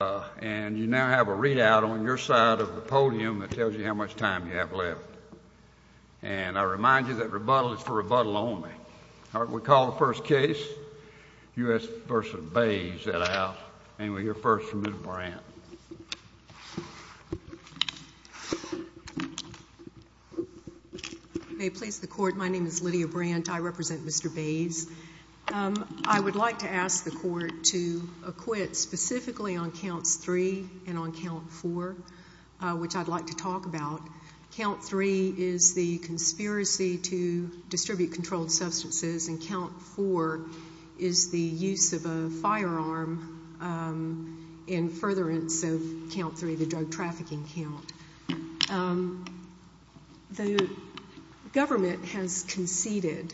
and you now have a readout on your side of the podium that tells you how much time you have left. And I remind you that rebuttal is for rebuttal only. All right, we'll call the first case, U.S. v. Bays, out. And we'll hear first from Ms. Brandt. May it please the Court, my name is Lydia Brandt. I represent Mr. Bays. I would like to ask the Court to acquit specifically on Counts 3 and on Count 4, which I'd like to talk about. Count 3 is the conspiracy to distribute controlled substances, and Count 4 is the use of a firearm in furtherance of Count 3, the drug trafficking count. The government has conceded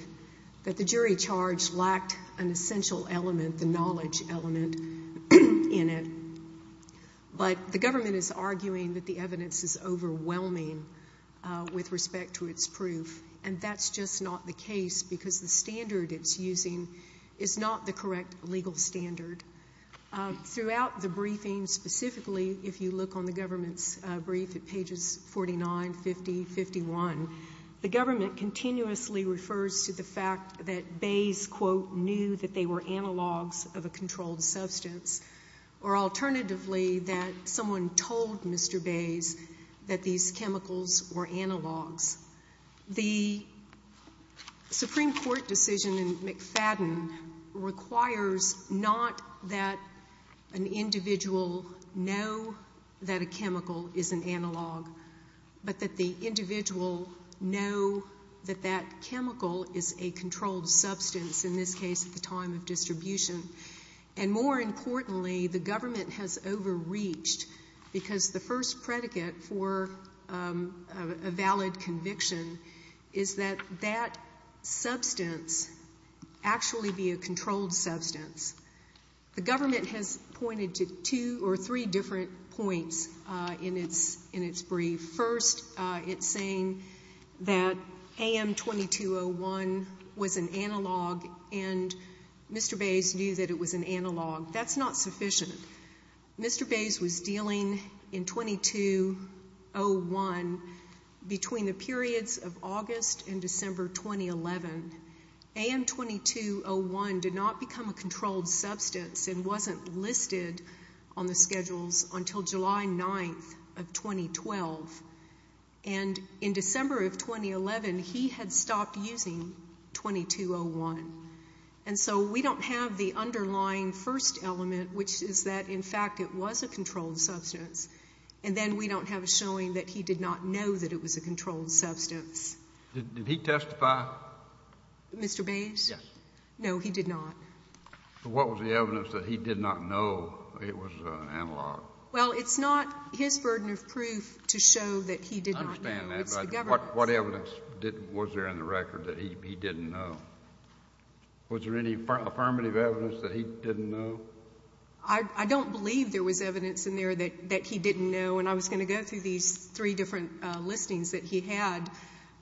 that the jury charge lacked an essential element, the knowledge element, in it. But the government is arguing that the evidence is overwhelming with respect to its proof, and that's just not the case because the standard it's using is not the correct legal standard. Throughout the briefing, specifically if you look on the government's brief at pages 49, 50, 51, the government continuously refers to the fact that Bays, quote, knew that they were analogs of a controlled substance, or alternatively that someone told Mr. Bays that these chemicals were analogs. The Supreme Court decision in McFadden requires not that an individual know that a chemical is an analog, but that the individual know that that chemical is a controlled substance, in this case at the time of distribution. And more importantly, the government has overreached, because the first predicate for a valid conviction is that that substance actually be a controlled substance. The government has pointed to two or three different points in its brief. First, it's saying that AM 2201 was an analog, and Mr. Bays knew that it was an analog. That's not sufficient. Mr. Bays was dealing in 2201 between the periods of August and December 2011. AM 2201 did not become a controlled substance and wasn't listed on the schedules until July 9th of 2012. And in December of 2011, he had stopped using 2201. And so we don't have the underlying first element, which is that, in fact, it was a controlled substance, and then we don't have a showing that he did not know that it was a controlled substance. Did he testify? Mr. Bays? Yes. No, he did not. What was the evidence that he did not know it was an analog? Well, it's not his burden of proof to show that he did not know. I understand that, but what evidence was there in the record that he didn't know? Was there any affirmative evidence that he didn't know? I don't believe there was evidence in there that he didn't know, and I was going to go through these three different listings that he had.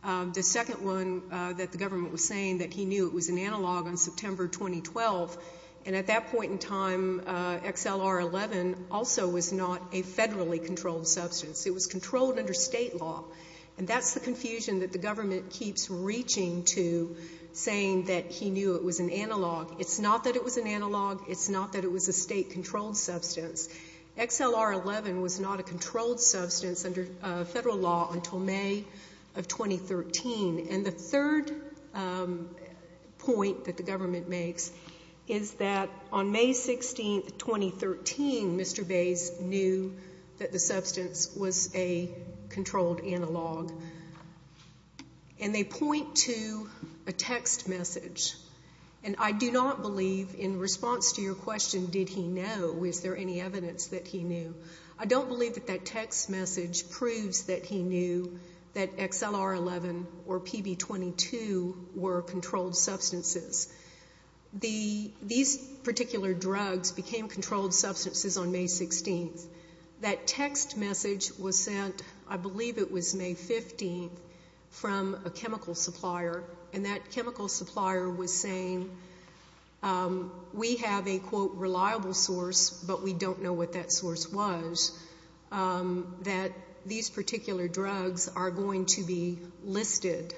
The second one that the government was saying that he knew it was an analog on September 2012, and at that point in time, XLR-11 also was not a federally controlled substance. It was controlled under state law, and that's the confusion that the government keeps reaching to saying that he knew it was an analog. It's not that it was an analog. It's not that it was a state-controlled substance. XLR-11 was not a controlled substance under federal law until May of 2013. And the third point that the government makes is that on May 16, 2013, Mr. Bays knew that the substance was a controlled analog, and they point to a text message. And I do not believe in response to your question, did he know, is there any evidence that he knew? I don't believe that that text message proves that he knew that XLR-11 or PB-22 were controlled substances. These particular drugs became controlled substances on May 16. That text message was sent, I believe it was May 15, from a chemical supplier, and that chemical supplier was saying we have a, quote, reliable source, but we don't know what that source was, that these particular drugs are going to be listed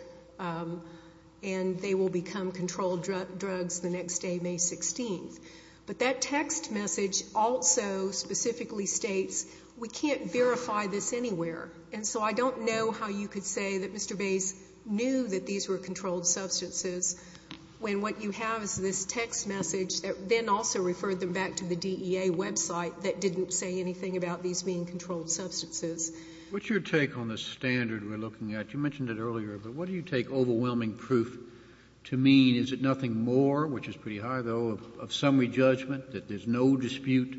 and they will become controlled drugs the next day, May 16. But that text message also specifically states we can't verify this anywhere, and so I don't know how you could say that Mr. Bays knew that these were controlled substances when what you have is this text message that then also referred them back to the DEA website that didn't say anything about these being controlled substances. What's your take on the standard we're looking at? You mentioned it earlier, but what do you take overwhelming proof to mean? Is it nothing more, which is pretty high, though, of summary judgment, that there's no dispute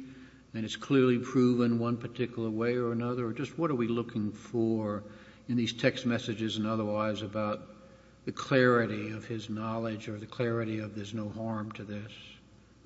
and it's clearly proven one particular way or another? Or just what are we looking for in these text messages and otherwise about the clarity of his knowledge or the clarity of there's no harm to this?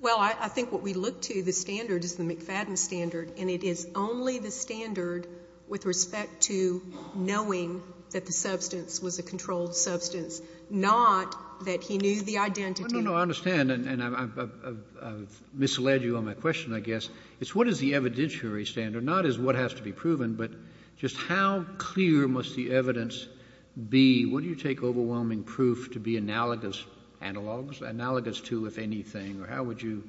Well, I think what we look to, the standard is the McFadden standard, and it is only the standard with respect to knowing that the substance was a controlled substance, not that he knew the identity. No, no, no, I understand, and I've misled you on my question, I guess. It's what is the evidentiary standard, not as what has to be proven, but just how clear must the evidence be? What do you take overwhelming proof to be analogous to, if anything? Or how would you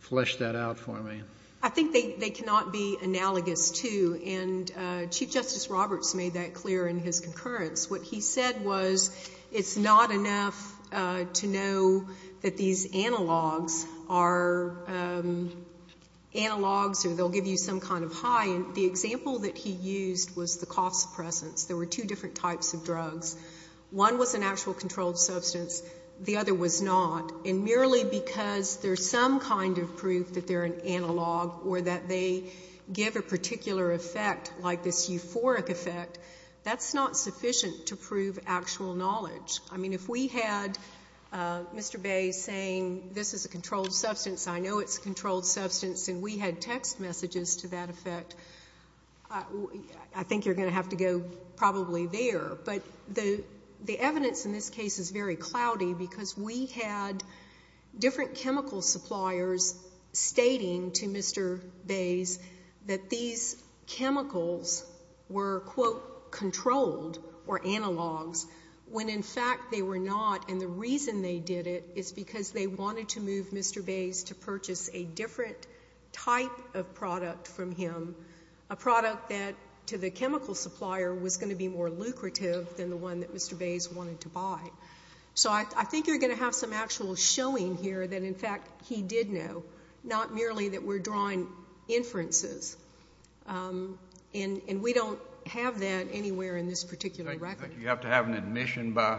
flesh that out for me? I think they cannot be analogous to, and Chief Justice Roberts made that clear in his concurrence. What he said was it's not enough to know that these analogs are analogs or they'll give you some kind of high, and the example that he used was the cough suppressants. There were two different types of drugs. One was an actual controlled substance. The other was not. And merely because there's some kind of proof that they're an analog or that they give a particular effect, like this euphoric effect, that's not sufficient to prove actual knowledge. I mean, if we had Mr. Bay saying this is a controlled substance, I know it's a controlled substance, and we had text messages to that effect, I think you're going to have to go probably there. But the evidence in this case is very cloudy because we had different chemical suppliers stating to Mr. Bay that these chemicals were, quote, controlled or analogs, when in fact they were not. And the reason they did it is because they wanted to move Mr. Bay to purchase a different type of product from him, a product that to the chemical supplier was going to be more lucrative than the one that Mr. Bay wanted to buy. So I think you're going to have some actual showing here that in fact he did know, not merely that we're drawing inferences. And we don't have that anywhere in this particular record. Do you think you have to have an admission by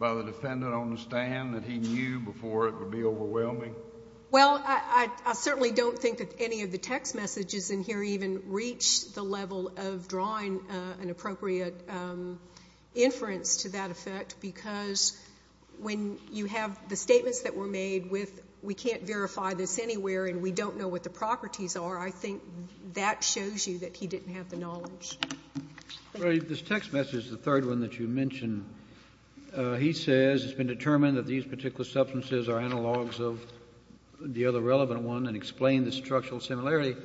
the defendant on the stand that he knew before it would be overwhelming? Well, I certainly don't think that any of the text messages in here even reach the level of drawing an appropriate inference to that effect because when you have the statements that were made with we can't verify this anywhere and we don't know what the properties are, I think that shows you that he didn't have the knowledge. This text message, the third one that you mentioned, he says it's been determined that these particular substances are analogs of the other relevant one and explain the structural similarity.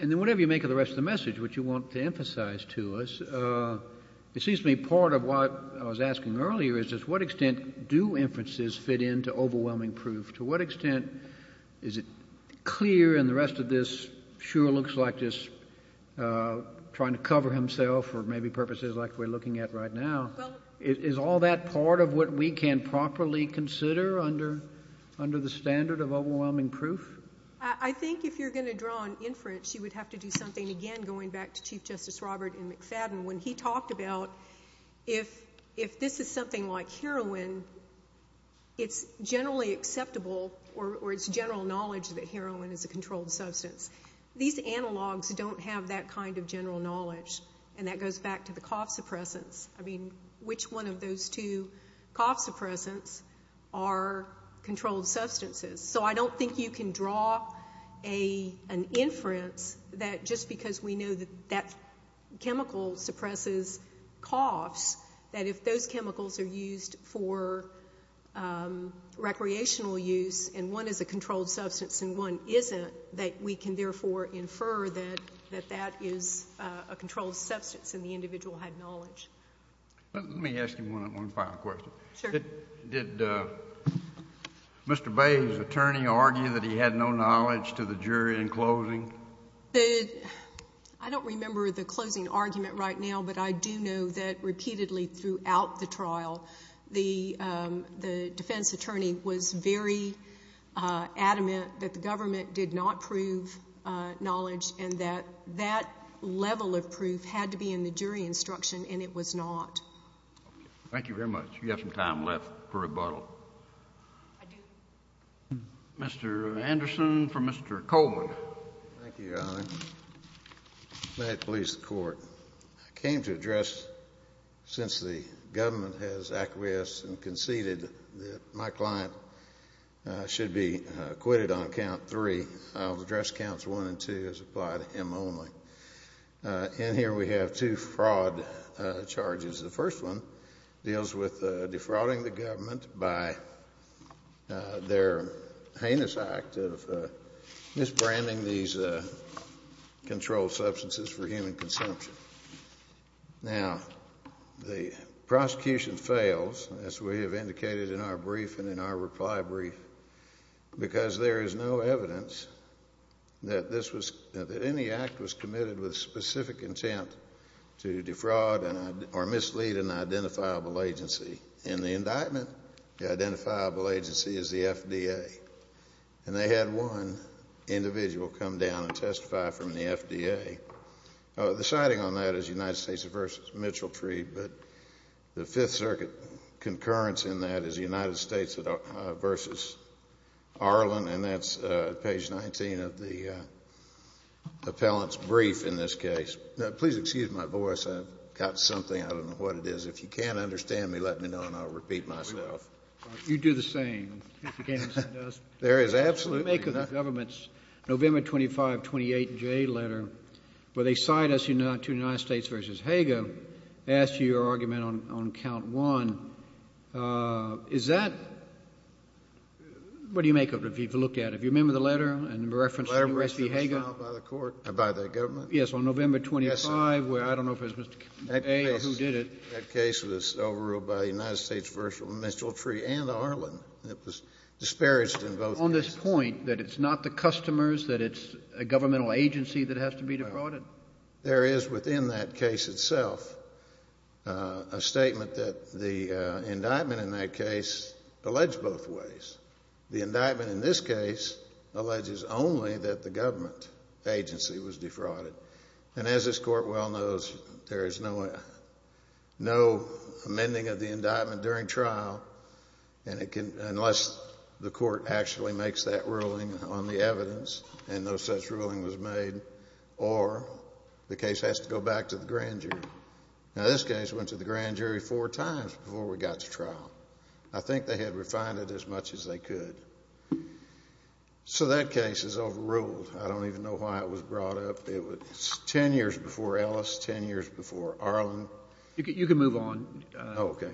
And then whatever you make of the rest of the message, which you want to emphasize to us, it seems to me part of what I was asking earlier is just what extent do inferences fit into overwhelming proof? To what extent is it clear and the rest of this sure looks like just trying to cover himself or maybe purposes like we're looking at right now. Is all that part of what we can properly consider under the standard of overwhelming proof? I think if you're going to draw an inference, you would have to do something again going back to Chief Justice Robert in McFadden when he talked about if this is something like heroin, it's generally acceptable or it's general knowledge that heroin is a controlled substance. These analogs don't have that kind of general knowledge, and that goes back to the cough suppressants. I mean, which one of those two cough suppressants are controlled substances? So I don't think you can draw an inference that just because we know that that chemical suppresses coughs, that if those chemicals are used for recreational use and one is a controlled substance and one isn't, that we can therefore infer that that is a controlled substance and the individual had knowledge. Let me ask you one final question. Sure. Did Mr. Bay's attorney argue that he had no knowledge to the jury in closing? I don't remember the closing argument right now, but I do know that repeatedly throughout the trial the defense attorney was very adamant that the government did not prove knowledge and that that level of proof had to be in the jury instruction and it was not. Thank you very much. You have some time left for rebuttal. Mr. Anderson for Mr. Coleman. Thank you, Your Honor. May it please the Court. I came to address, since the government has acquiesced and conceded that my client should be acquitted on count three, I will address counts one and two as applied to him only. In here we have two fraud charges. The first one deals with defrauding the government by their heinous act of misbranding these controlled substances for human consumption. Now, the prosecution fails, as we have indicated in our brief and in our reply brief, because there is no evidence that any act was committed with specific intent to defraud or mislead an identifiable agency. In the indictment, the identifiable agency is the FDA. And they had one individual come down and testify from the FDA. The citing on that is United States v. Mitchell Tree, but the Fifth Circuit concurrence in that is United States v. Arlen, and that's page 19 of the appellant's brief in this case. Now, please excuse my voice. I've got something. I don't know what it is. If you can't understand me, let me know, and I'll repeat myself. You do the same. There is absolutely nothing. What do you make of the government's November 25, 28, J letter where they cite us to United States v. Hager, ask you your argument on count one? Is that what do you make of it if you've looked at it? Do you remember the letter and the reference to U.S. v. Hager? The letter was filed by the court, by the government. Yes, on November 25, where I don't know if it was Mr. A or who did it. That case was overruled by the United States v. Mitchell Tree and Arlen. It was disparaged in both cases. Are you on this point that it's not the customers, that it's a governmental agency that has to be defrauded? There is within that case itself a statement that the indictment in that case alleged both ways. The indictment in this case alleges only that the government agency was defrauded, and as this court well knows, there is no amending of the indictment during trial unless the court actually makes that ruling on the evidence and no such ruling was made, or the case has to go back to the grand jury. Now, this case went to the grand jury four times before we got to trial. I think they had refined it as much as they could. So that case is overruled. I don't even know why it was brought up. It was 10 years before Ellis, 10 years before Arlen. You can move on. Okay.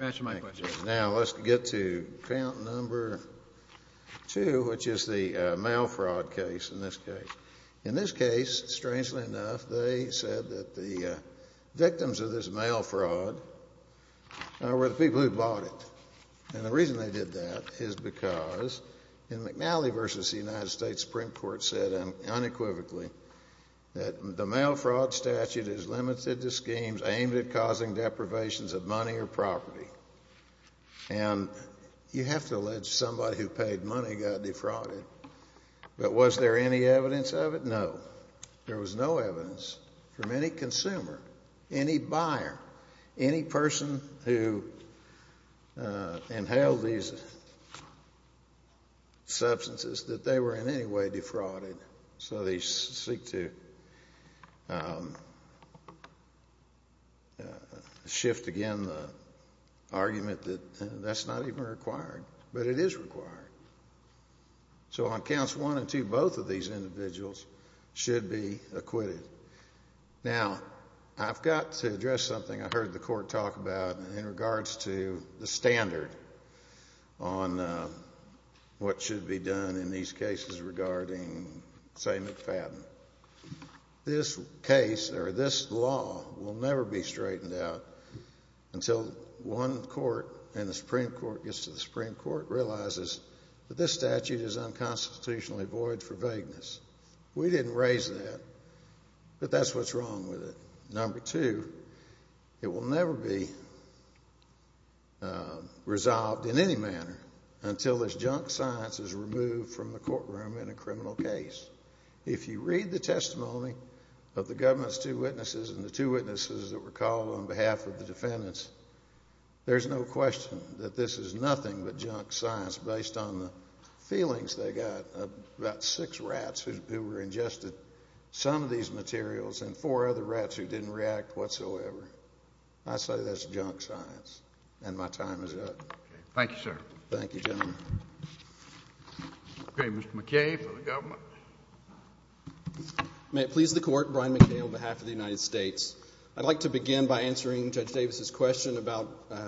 Now let's get to count number two, which is the mail fraud case in this case. In this case, strangely enough, they said that the victims of this mail fraud were the people who bought it. And the reason they did that is because in McNally v. The United States Supreme Court said unequivocally that the mail fraud statute is limited to schemes aimed at causing deprivations of money or property. And you have to allege somebody who paid money got defrauded. But was there any evidence of it? No. There was no evidence from any consumer, any buyer, any person who inhaled these substances that they were in any way defrauded. So they seek to shift again the argument that that's not even required. But it is required. So on counts one and two, both of these individuals should be acquitted. Now, I've got to address something I heard the court talk about in regards to the standard on what should be done in these cases regarding, say, McFadden. This case or this law will never be straightened out until one court and the Supreme Court gets to the Supreme Court realizes that this statute is unconstitutionally void for vagueness. We didn't raise that. But that's what's wrong with it. Number two, it will never be resolved in any manner until this junk science is removed from the courtroom in a criminal case. If you read the testimony of the government's two witnesses and the two witnesses that were called on behalf of the defendants, there's no question that this is nothing but junk science based on the feelings they got about six rats who were ingested some of these materials and four other rats who didn't react whatsoever. I say that's junk science, and my time is up. Thank you, sir. Thank you, gentlemen. Okay, Mr. McKay for the government. May it please the Court, Brian McKay on behalf of the United States. I'd like to begin by answering Judge Davis's question about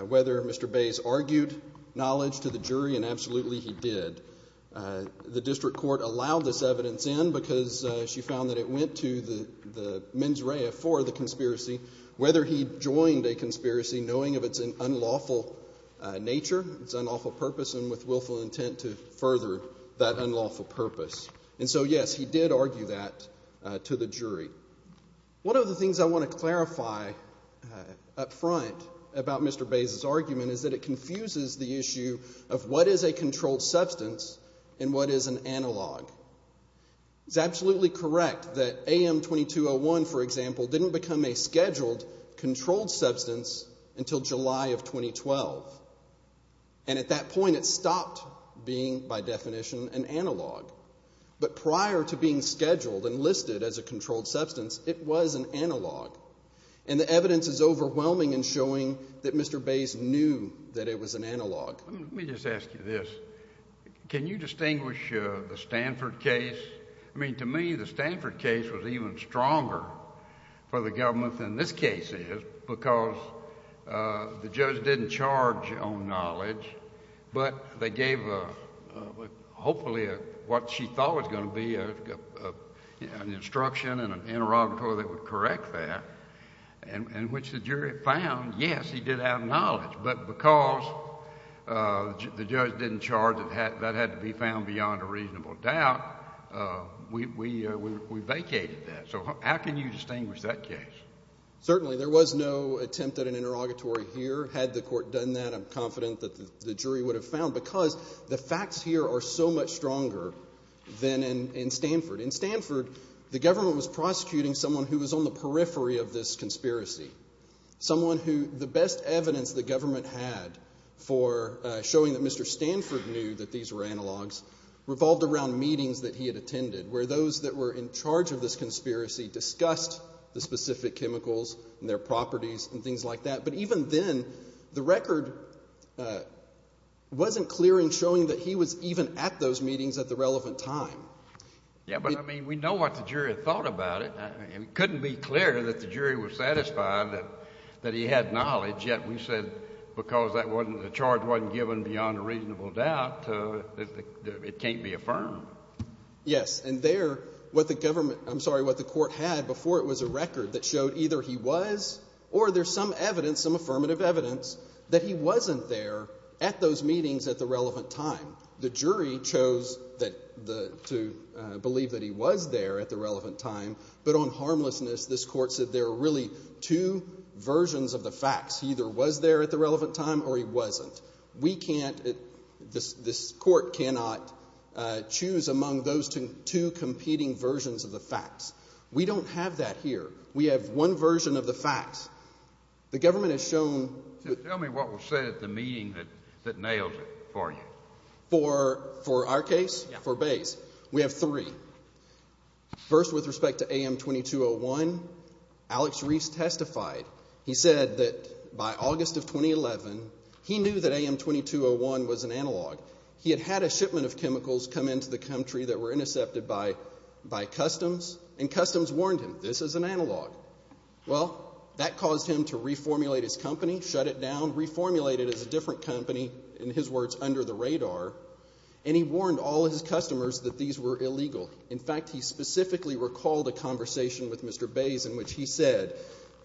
whether Mr. Bays argued knowledge to the jury, and absolutely he did. The district court allowed this evidence in because she found that it went to the mens rea for the conspiracy, whether he joined a conspiracy knowing of its unlawful nature, its unlawful purpose, and with willful intent to further that unlawful purpose. And so, yes, he did argue that to the jury. One of the things I want to clarify up front about Mr. Bays's argument is that it confuses the issue of what is a controlled substance and what is an analog. It's absolutely correct that AM 2201, for example, didn't become a scheduled controlled substance until July of 2012, and at that point it stopped being, by definition, an analog. But prior to being scheduled and listed as a controlled substance, it was an analog, and the evidence is overwhelming in showing that Mr. Bays knew that it was an analog. Let me just ask you this. Can you distinguish the Stanford case? I mean, to me, the Stanford case was even stronger for the government than this case is because the judge didn't charge on knowledge, but they gave hopefully what she thought was going to be an instruction and an interrogatory before they would correct that, in which the jury found, yes, he did have knowledge, but because the judge didn't charge that that had to be found beyond a reasonable doubt, we vacated that. So how can you distinguish that case? Certainly. There was no attempt at an interrogatory here. Had the court done that, I'm confident that the jury would have found because the facts here are so much stronger than in Stanford. In Stanford, the government was prosecuting someone who was on the periphery of this conspiracy, someone who the best evidence the government had for showing that Mr. Stanford knew that these were analogs revolved around meetings that he had attended, where those that were in charge of this conspiracy discussed the specific chemicals and their properties and things like that. But even then, the record wasn't clear in showing that he was even at those meetings at the relevant time. Yeah, but, I mean, we know what the jury thought about it. It couldn't be clearer that the jury was satisfied that he had knowledge, yet we said because the charge wasn't given beyond a reasonable doubt, it can't be affirmed. Yes, and there, what the court had before it was a record that showed either he was or there's some evidence, some affirmative evidence, that he wasn't there at those meetings at the relevant time. The jury chose to believe that he was there at the relevant time, but on harmlessness this court said there are really two versions of the facts. He either was there at the relevant time or he wasn't. We can't, this court cannot choose among those two competing versions of the facts. We don't have that here. We have one version of the facts. The government has shown- Tell me what was said at the meeting that nailed it for you. For our case, for Bayes, we have three. First, with respect to AM2201, Alex Reeves testified. He said that by August of 2011, he knew that AM2201 was an analog. He had had a shipment of chemicals come into the country that were intercepted by Customs, and Customs warned him, this is an analog. Well, that caused him to reformulate his company, shut it down, reformulate it as a different company, in his words, under the radar, and he warned all his customers that these were illegal. In fact, he specifically recalled a conversation with Mr. Bayes in which he said,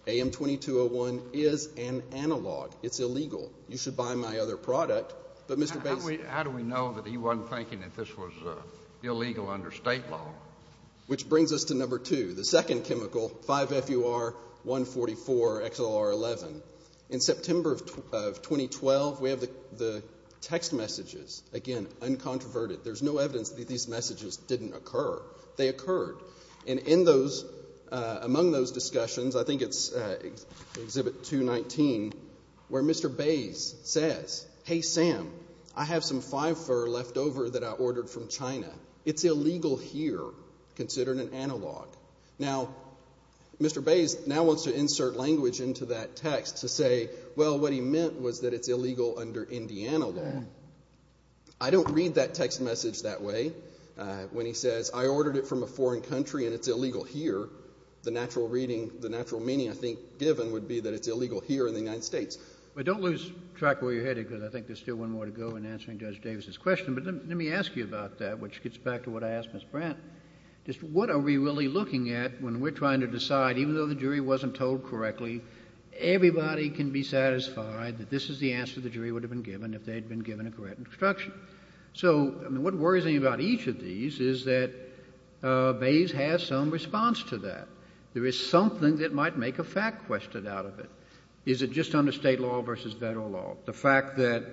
AM2201 is an analog. It's illegal. You should buy my other product, but Mr. Bayes- How do we know that he wasn't thinking that this was illegal under state law? Which brings us to number two, the second chemical, 5-FUR-144-XLR11. In September of 2012, we have the text messages. Again, uncontroverted. There's no evidence that these messages didn't occur. They occurred. And in those, among those discussions, I think it's Exhibit 219, where Mr. Bayes says, hey, Sam, I have some 5-FUR left over that I ordered from China. It's illegal here, considered an analog. Now, Mr. Bayes now wants to insert language into that text to say, well, what he meant was that it's illegal under Indiana law. I don't read that text message that way when he says, I ordered it from a foreign country and it's illegal here. The natural reading, the natural meaning, I think, given would be that it's illegal here in the United States. But don't lose track of where you're headed, because I think there's still one more to go in answering Judge Davis's question. But let me ask you about that, which gets back to what I asked Ms. Brandt. Just what are we really looking at when we're trying to decide, even though the jury wasn't told correctly, everybody can be satisfied that this is the answer the jury would have been given if they had been given a correct instruction? So what worries me about each of these is that Bayes has some response to that. There is something that might make a fact question out of it. Is it just under state law versus federal law? The fact that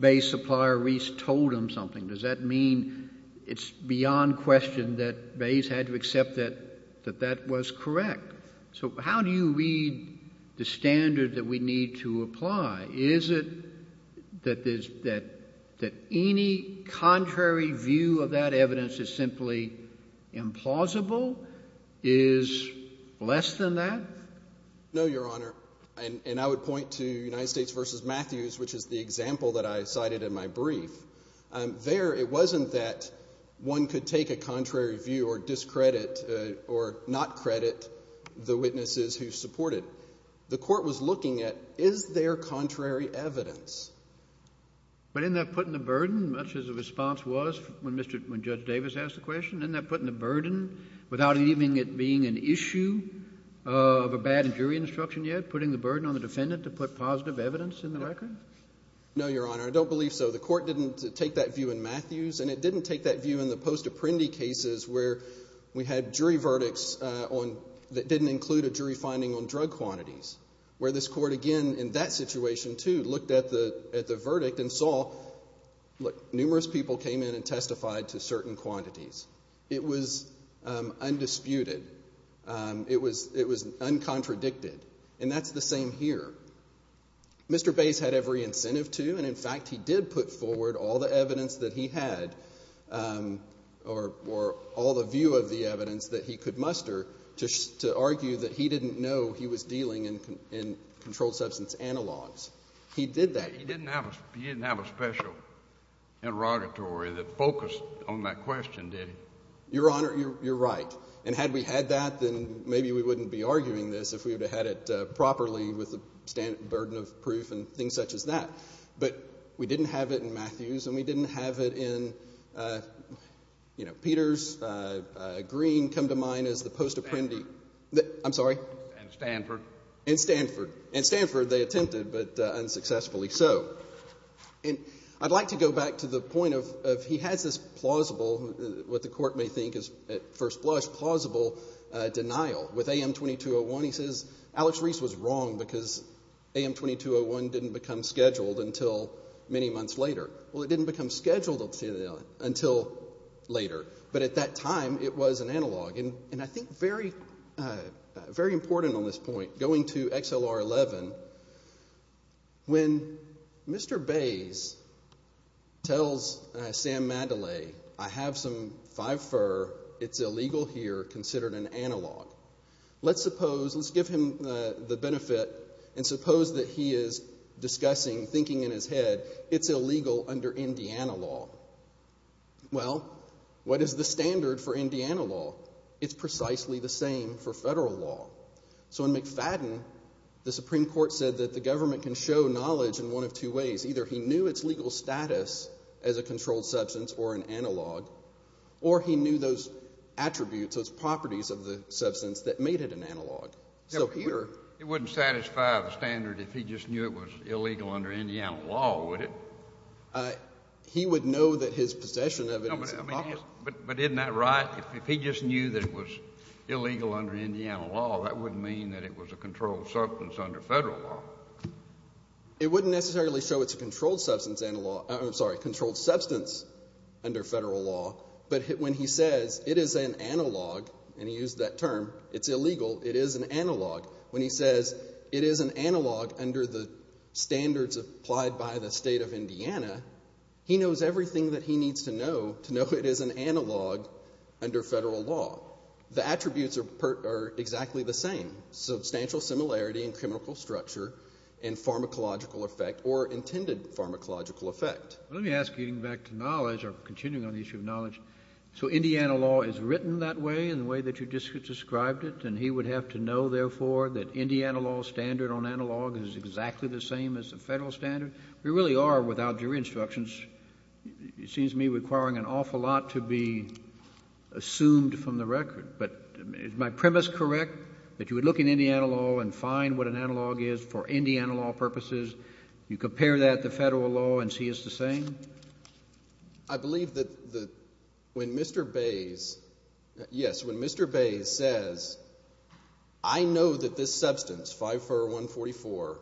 Bayes' supplier Reese told him something, does that mean it's beyond question that Bayes had to accept that that was correct? So how do you read the standard that we need to apply? Is it that any contrary view of that evidence is simply implausible? Is less than that? No, Your Honor, and I would point to United States versus Matthews, which is the example that I cited in my brief. There it wasn't that one could take a contrary view or discredit or not credit the witnesses who support it. The court was looking at is there contrary evidence? But isn't that putting the burden, much as the response was when Judge Davis asked the question, isn't that putting the burden without even it being an issue of a bad jury instruction yet, putting the burden on the defendant to put positive evidence in the record? No, Your Honor, I don't believe so. The court didn't take that view in Matthews, and it didn't take that view in the post-Apprendi cases where we had jury verdicts that didn't include a jury finding on drug quantities, where this court, again, in that situation, too, looked at the verdict and saw, look, numerous people came in and testified to certain quantities. It was undisputed. It was uncontradicted, and that's the same here. Mr. Bays had every incentive to, and, in fact, he did put forward all the evidence that he had or all the view of the evidence that he could muster to argue that he didn't know he was dealing in controlled substance analogs. He did that. He didn't have a special interrogatory that focused on that question, did he? Your Honor, you're right. And had we had that, then maybe we wouldn't be arguing this if we would have had it properly with the burden of proof and things such as that. But we didn't have it in Matthews, and we didn't have it in, you know, Peters, Green come to mind as the post-Apprendi. Stanford. I'm sorry? And Stanford. And Stanford. And Stanford they attempted, but unsuccessfully so. And I'd like to go back to the point of he has this plausible, what the court may think is at first blush, plausible denial. With AM2201 he says, Alex Reese was wrong because AM2201 didn't become scheduled until many months later. Well, it didn't become scheduled until later, but at that time it was an analog. And I think very important on this point, going to XLR11, when Mr. Bays tells Sam Mandalay, I have some five-fur, it's illegal here, considered an analog. Let's suppose, let's give him the benefit, and suppose that he is discussing, thinking in his head, it's illegal under Indiana law. Well, what is the standard for Indiana law? It's precisely the same for federal law. So in McFadden, the Supreme Court said that the government can show knowledge in one of two ways. Either he knew its legal status as a controlled substance or an analog, or he knew those attributes, those properties of the substance that made it an analog. It wouldn't satisfy the standard if he just knew it was illegal under Indiana law, would it? He would know that his possession of it is an analog. But isn't that right? If he just knew that it was illegal under Indiana law, that wouldn't mean that it was a controlled substance under federal law. It wouldn't necessarily show it's a controlled substance under federal law, but when he says it is an analog, and he used that term, it's illegal, it is an analog. When he says it is an analog under the standards applied by the state of Indiana, he knows everything that he needs to know to know it is an analog under federal law. The attributes are exactly the same. Substantial similarity in chemical structure and pharmacological effect or intended pharmacological effect. Let me ask you back to knowledge or continuing on the issue of knowledge. So Indiana law is written that way in the way that you just described it, and he would have to know, therefore, that Indiana law standard on analog is exactly the same as the federal standard? And we really are, without your instructions, it seems to me requiring an awful lot to be assumed from the record. But is my premise correct, that you would look in Indiana law and find what an analog is for Indiana law purposes, you compare that to federal law and see it's the same? I believe that when Mr. Bays, yes, when Mr. Bays says, I know that this substance, 5-4-1-44,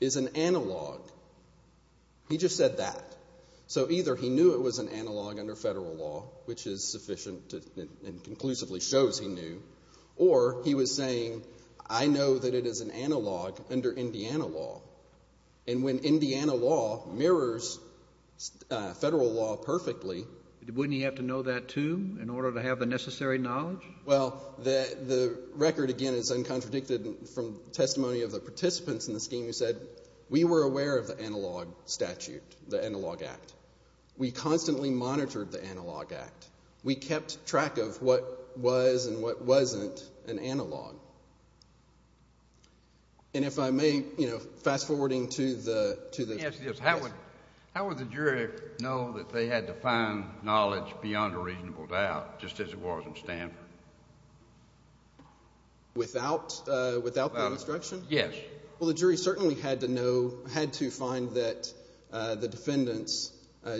is an analog, he just said that. So either he knew it was an analog under federal law, which is sufficient and conclusively shows he knew, or he was saying, I know that it is an analog under Indiana law. And when Indiana law mirrors federal law perfectly... Wouldn't he have to know that, too, in order to have the necessary knowledge? Well, the record, again, is uncontradicted from testimony of the participants in the scheme who said, we were aware of the analog statute, the analog act. We constantly monitored the analog act. We kept track of what was and what wasn't an analog. And if I may, you know, fast-forwarding to the... Yes, yes, how would the jury know that they had to find knowledge beyond a reasonable doubt, just as it was in Stanford? Without that instruction? Yes. Well, the jury certainly had to know, had to find that the defendants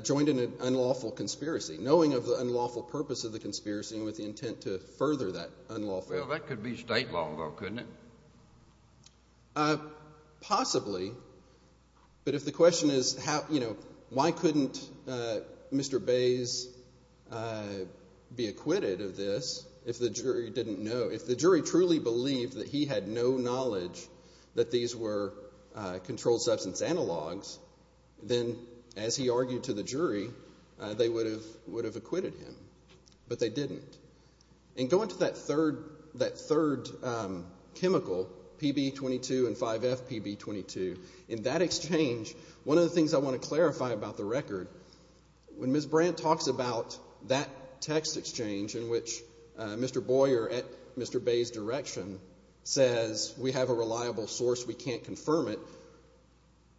joined in an unlawful conspiracy, knowing of the unlawful purpose of the conspiracy and with the intent to further that unlawful... Well, that could be state law, though, couldn't it? Possibly. But if the question is, you know, why couldn't Mr. Bays be acquitted of this if the jury didn't know, if the jury truly believed that he had no knowledge that these were controlled substance analogs, then, as he argued to the jury, they would have acquitted him. But they didn't. And going to that third chemical, PB-22 and 5F-PB-22, in that exchange, one of the things I want to clarify about the record, when Ms. Brandt talks about that text exchange in which Mr. Boyer, at Mr. Bays' direction, says we have a reliable source, we can't confirm it,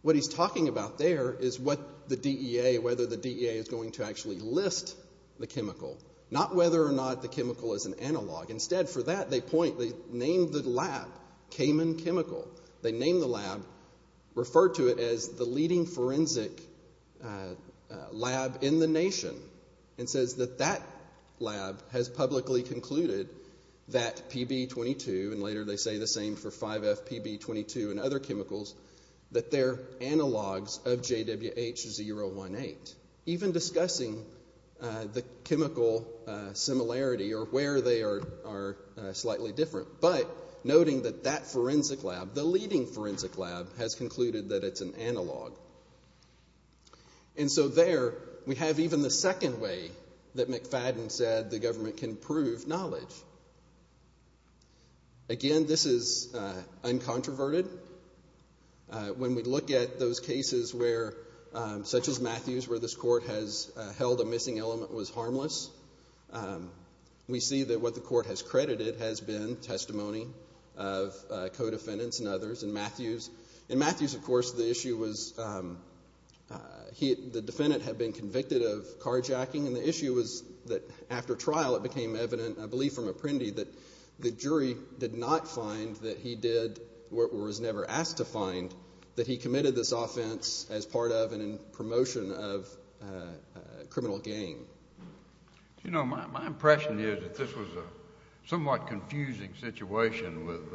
what he's talking about there is what the DEA, whether the DEA is going to actually list the chemical, not whether or not the chemical is an analog. Instead, for that, they point, they name the lab Cayman Chemical. They name the lab, refer to it as the leading forensic lab in the nation, and says that that lab has publicly concluded that PB-22, and later they say the same for 5F-PB-22 and other chemicals, that they're analogs of JWH-018. Even discussing the chemical similarity or where they are slightly different, but noting that that forensic lab, the leading forensic lab, has concluded that it's an analog. And so there, we have even the second way that McFadden said the government can prove knowledge. Again, this is uncontroverted. When we look at those cases where, such as Matthews, where this court has held a missing element was harmless, we see that what the court has credited has been testimony of co-defendants and others in Matthews. In Matthews, of course, the issue was the defendant had been convicted of carjacking, and the issue was that after trial, it became evident, I believe from Apprendi, that the jury did not find that he did, or was never asked to find, that he committed this offense as part of and in promotion of criminal gain. You know, my impression is that this was a somewhat confusing situation with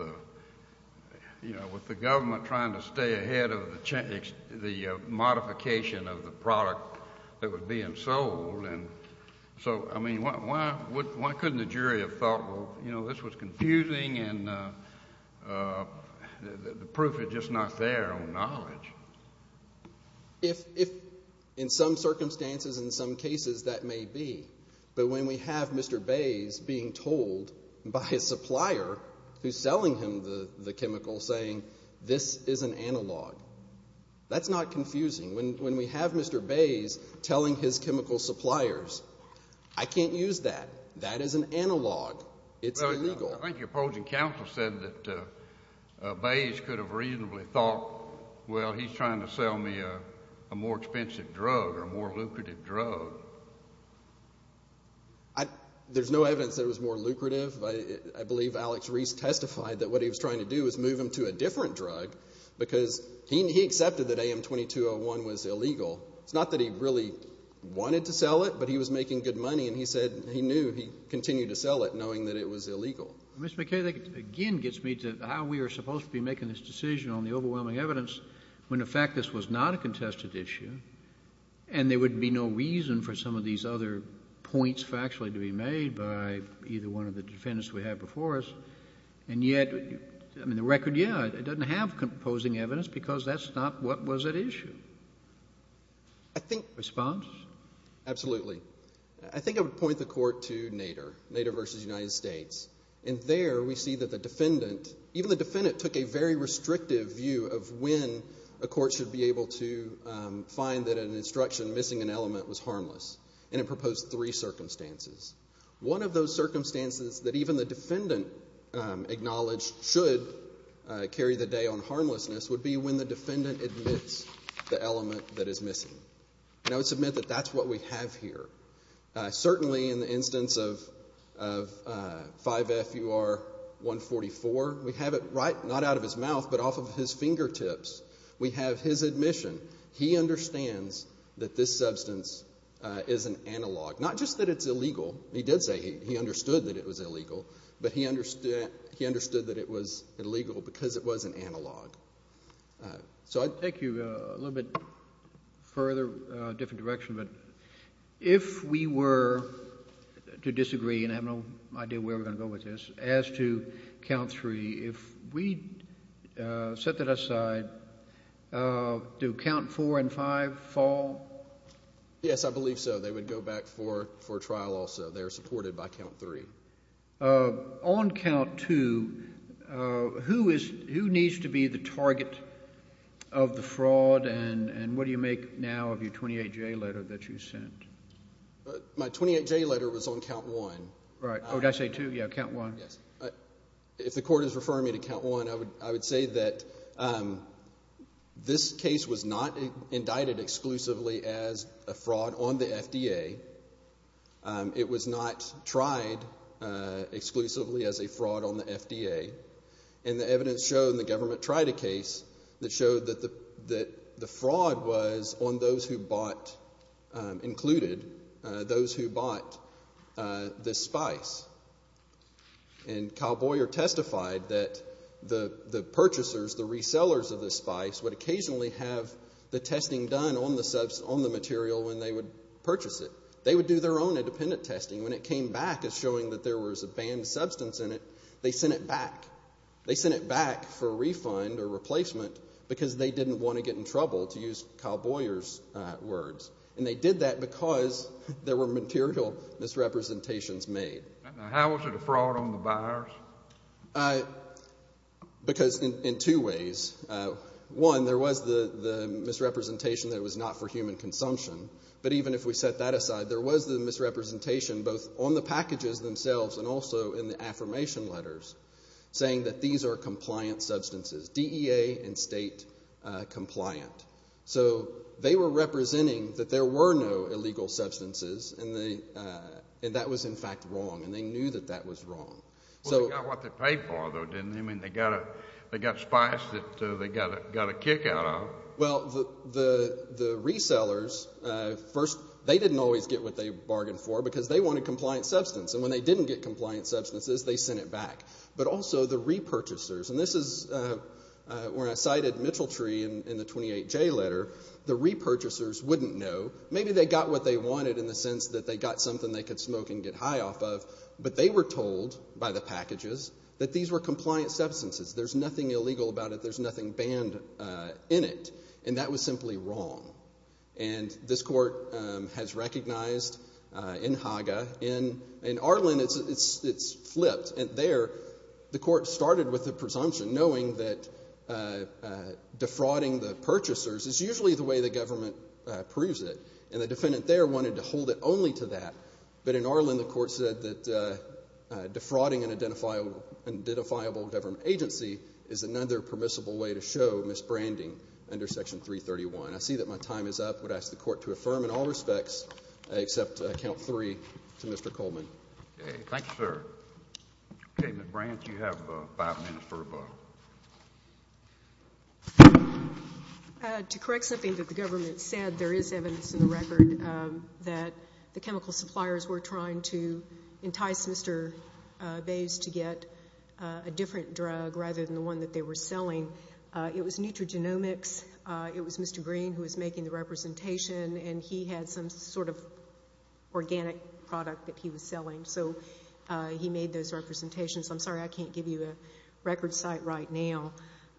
the government trying to stay ahead of the modification of the product that was being sold. And so, I mean, why couldn't the jury have thought, well, you know, this was confusing and the proof is just not there on knowledge? If, in some circumstances, in some cases, that may be. But when we have Mr. Bays being told by his supplier, who's selling him the chemical, saying this is an analog, that's not confusing. When we have Mr. Bays telling his chemical suppliers, I can't use that. That is an analog. It's illegal. I think your opposing counsel said that Bays could have reasonably thought, well, he's trying to sell me a more expensive drug or a more lucrative drug. There's no evidence that it was more lucrative. I believe Alex Reese testified that what he was trying to do was move him to a different drug because he accepted that AM2201 was illegal. It's not that he really wanted to sell it, but he was making good money, and he said he knew he'd continue to sell it knowing that it was illegal. Mr. McKay, that again gets me to how we are supposed to be making this decision on the overwhelming evidence when, in fact, this was not a contested issue and there would be no reason for some of these other points factually to be made by either one of the defendants we have before us. And yet, in the record, yeah, it doesn't have composing evidence because that's not what was at issue. Response? Absolutely. I think I would point the court to Nader, Nader v. United States. And there we see that the defendant, even the defendant took a very restrictive view of when a court should be able to find that an instruction missing an element was harmless, and it proposed three circumstances. One of those circumstances that even the defendant acknowledged should carry the day on harmlessness would be when the defendant admits the element that is missing. And I would submit that that's what we have here. Certainly in the instance of 5FUR144, we have it right not out of his mouth, but off of his fingertips. We have his admission. He understands that this substance is an analog, not just that it's illegal. He did say he understood that it was illegal, but he understood that it was illegal because it was an analog. Thank you. A little bit further, different direction, but if we were to disagree, and I have no idea where we're going to go with this, as to count three, if we set that aside, do count four and five fall? Yes, I believe so. They would go back for trial also. They are supported by count three. On count two, who needs to be the target of the fraud, and what do you make now of your 28J letter that you sent? My 28J letter was on count one. Right. Oh, did I say two? Yeah, count one. If the court is referring me to count one, I would say that this case was not indicted exclusively as a fraud on the FDA. It was not tried exclusively as a fraud on the FDA, and the evidence showed the government tried a case that showed that the fraud was on those who bought included, those who bought this spice. And Kyle Boyer testified that the purchasers, the resellers of this spice would occasionally have the testing done on the material when they would purchase it. They would do their own independent testing. When it came back as showing that there was a banned substance in it, they sent it back. They sent it back for refund or replacement because they didn't want to get in trouble, to use Kyle Boyer's words, and they did that because there were material misrepresentations made. How was it a fraud on the buyers? Because in two ways. One, there was the misrepresentation that it was not for human consumption, but even if we set that aside, there was the misrepresentation both on the packages themselves and also in the affirmation letters saying that these are compliant substances, DEA and state compliant. So they were representing that there were no illegal substances and that was, in fact, wrong, and they knew that that was wrong. Well, they got what they paid for, though, didn't they? I mean, they got spice that they got a kick out of. Well, the resellers, first, they didn't always get what they bargained for because they wanted compliant substance, and when they didn't get compliant substances, they sent it back. But also the repurchasers, and this is where I cited Mitchell Tree in the 28J letter. The repurchasers wouldn't know. Maybe they got what they wanted in the sense that they got something they could smoke and get high off of, but they were told by the packages that these were compliant substances. There's nothing illegal about it. There's nothing banned in it, and that was simply wrong. And this court has recognized in Haga, in Arlen, it's flipped. And there the court started with a presumption knowing that defrauding the purchasers is usually the way the government approves it, and the defendant there wanted to hold it only to that. But in Arlen, the court said that defrauding an identifiable government agency is another permissible way to show misbranding under Section 331. I see that my time is up. I would ask the court to affirm in all respects except count three to Mr. Coleman. Okay. Thank you, sir. Okay, Ms. Branch, you have five minutes for rebuttal. To correct something that the government said, there is evidence in the record that the chemical suppliers were trying to entice Mr. Bays to get a different drug rather than the one that they were selling. It was Nutragenomics. It was Mr. Green who was making the representation, and he had some sort of organic product that he was selling, so he made those representations. I'm sorry I can't give you a record site right now.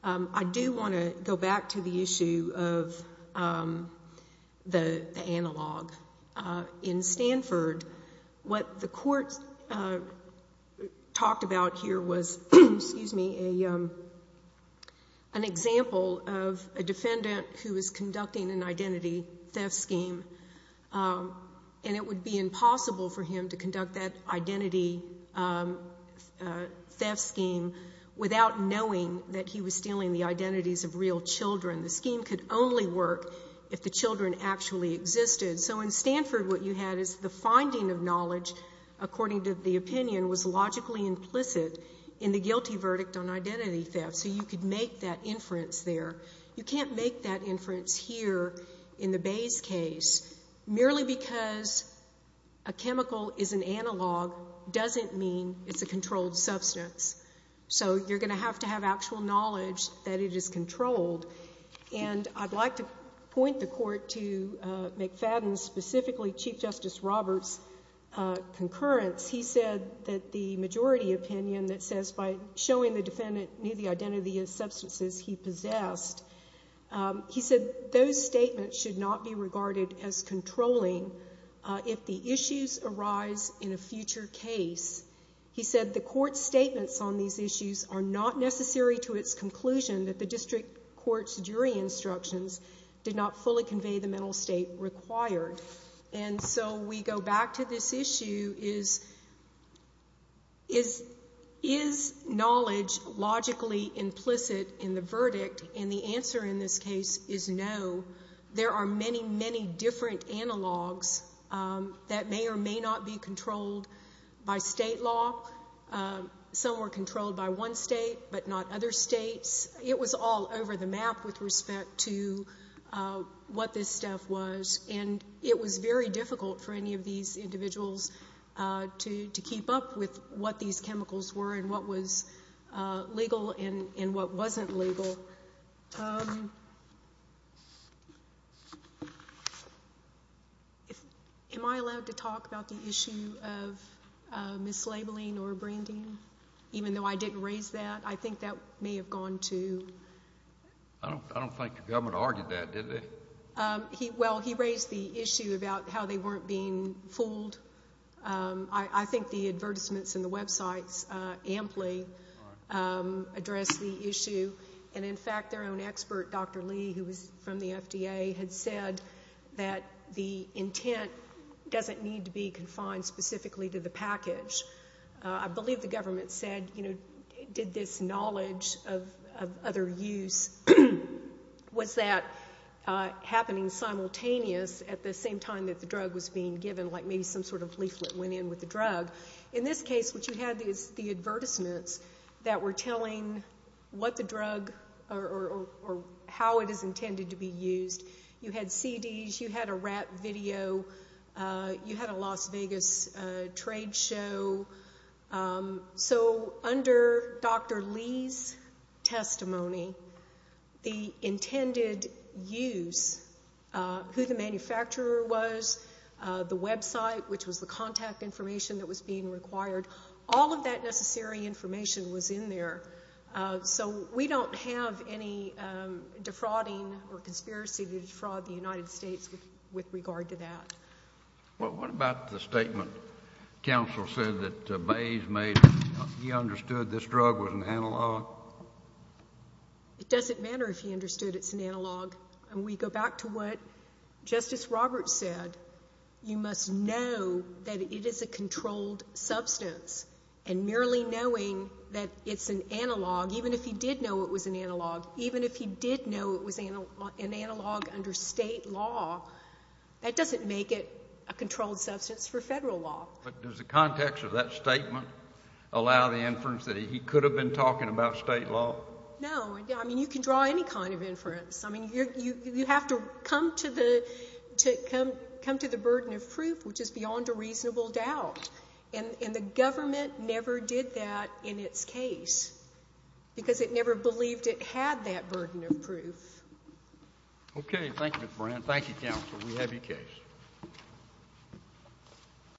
I do want to go back to the issue of the analog. In Stanford, what the court talked about here was an example of a defendant who was conducting an identity theft scheme, and it would be impossible for him to conduct that identity theft scheme without knowing that he was stealing the identities of real children. The scheme could only work if the children actually existed. So in Stanford, what you had is the finding of knowledge, according to the opinion, was logically implicit in the guilty verdict on identity theft, so you could make that inference there. You can't make that inference here in the Bays case. Merely because a chemical is an analog doesn't mean it's a controlled substance. So you're going to have to have actual knowledge that it is controlled. And I'd like to point the court to McFadden, specifically Chief Justice Roberts' concurrence. He said that the majority opinion that says, by showing the defendant knew the identity of substances he possessed, he said those statements should not be regarded as controlling if the issues arise in a future case. He said the court's statements on these issues are not necessary to its conclusion that the district court's jury instructions did not fully convey the mental state required. And so we go back to this issue, is knowledge logically implicit in the verdict? And the answer in this case is no. There are many, many different analogs that may or may not be controlled by state law. Some were controlled by one state, but not other states. It was all over the map with respect to what this stuff was. And it was very difficult for any of these individuals to keep up with what these chemicals were and what was legal and what wasn't legal. Am I allowed to talk about the issue of mislabeling or branding? Even though I didn't raise that, I think that may have gone to ____. I don't think the government argued that, did they? Well, he raised the issue about how they weren't being fooled. I think the advertisements in the websites amply address the issue. And, in fact, their own expert, Dr. Lee, who was from the FDA, had said that the intent doesn't need to be confined specifically to the package. I believe the government said, you know, did this knowledge of other use, was that happening simultaneous at the same time that the drug was being given, like maybe some sort of leaflet went in with the drug? In this case, what you had is the advertisements that were telling what the drug or how it is intended to be used. You had CDs. You had a rap video. You had a Las Vegas trade show. So under Dr. Lee's testimony, the intended use, who the manufacturer was, the website, which was the contact information that was being required, all of that necessary information was in there. So we don't have any defrauding or conspiracy to defraud the United States with regard to that. Well, what about the statement counsel said that Bayes made, he understood this drug was an analog? It doesn't matter if he understood it's an analog. And we go back to what Justice Roberts said. You must know that it is a controlled substance. And merely knowing that it's an analog, even if he did know it was an analog, even if he did know it was an analog under state law, that doesn't make it a controlled substance for federal law. But does the context of that statement allow the inference that he could have been talking about state law? No. I mean, you can draw any kind of inference. I mean, you have to come to the burden of proof, which is beyond a reasonable doubt. And the government never did that in its case because it never believed it had that burden of proof. Okay. Thank you, Mr. Moran. Thank you, counsel. We have your case.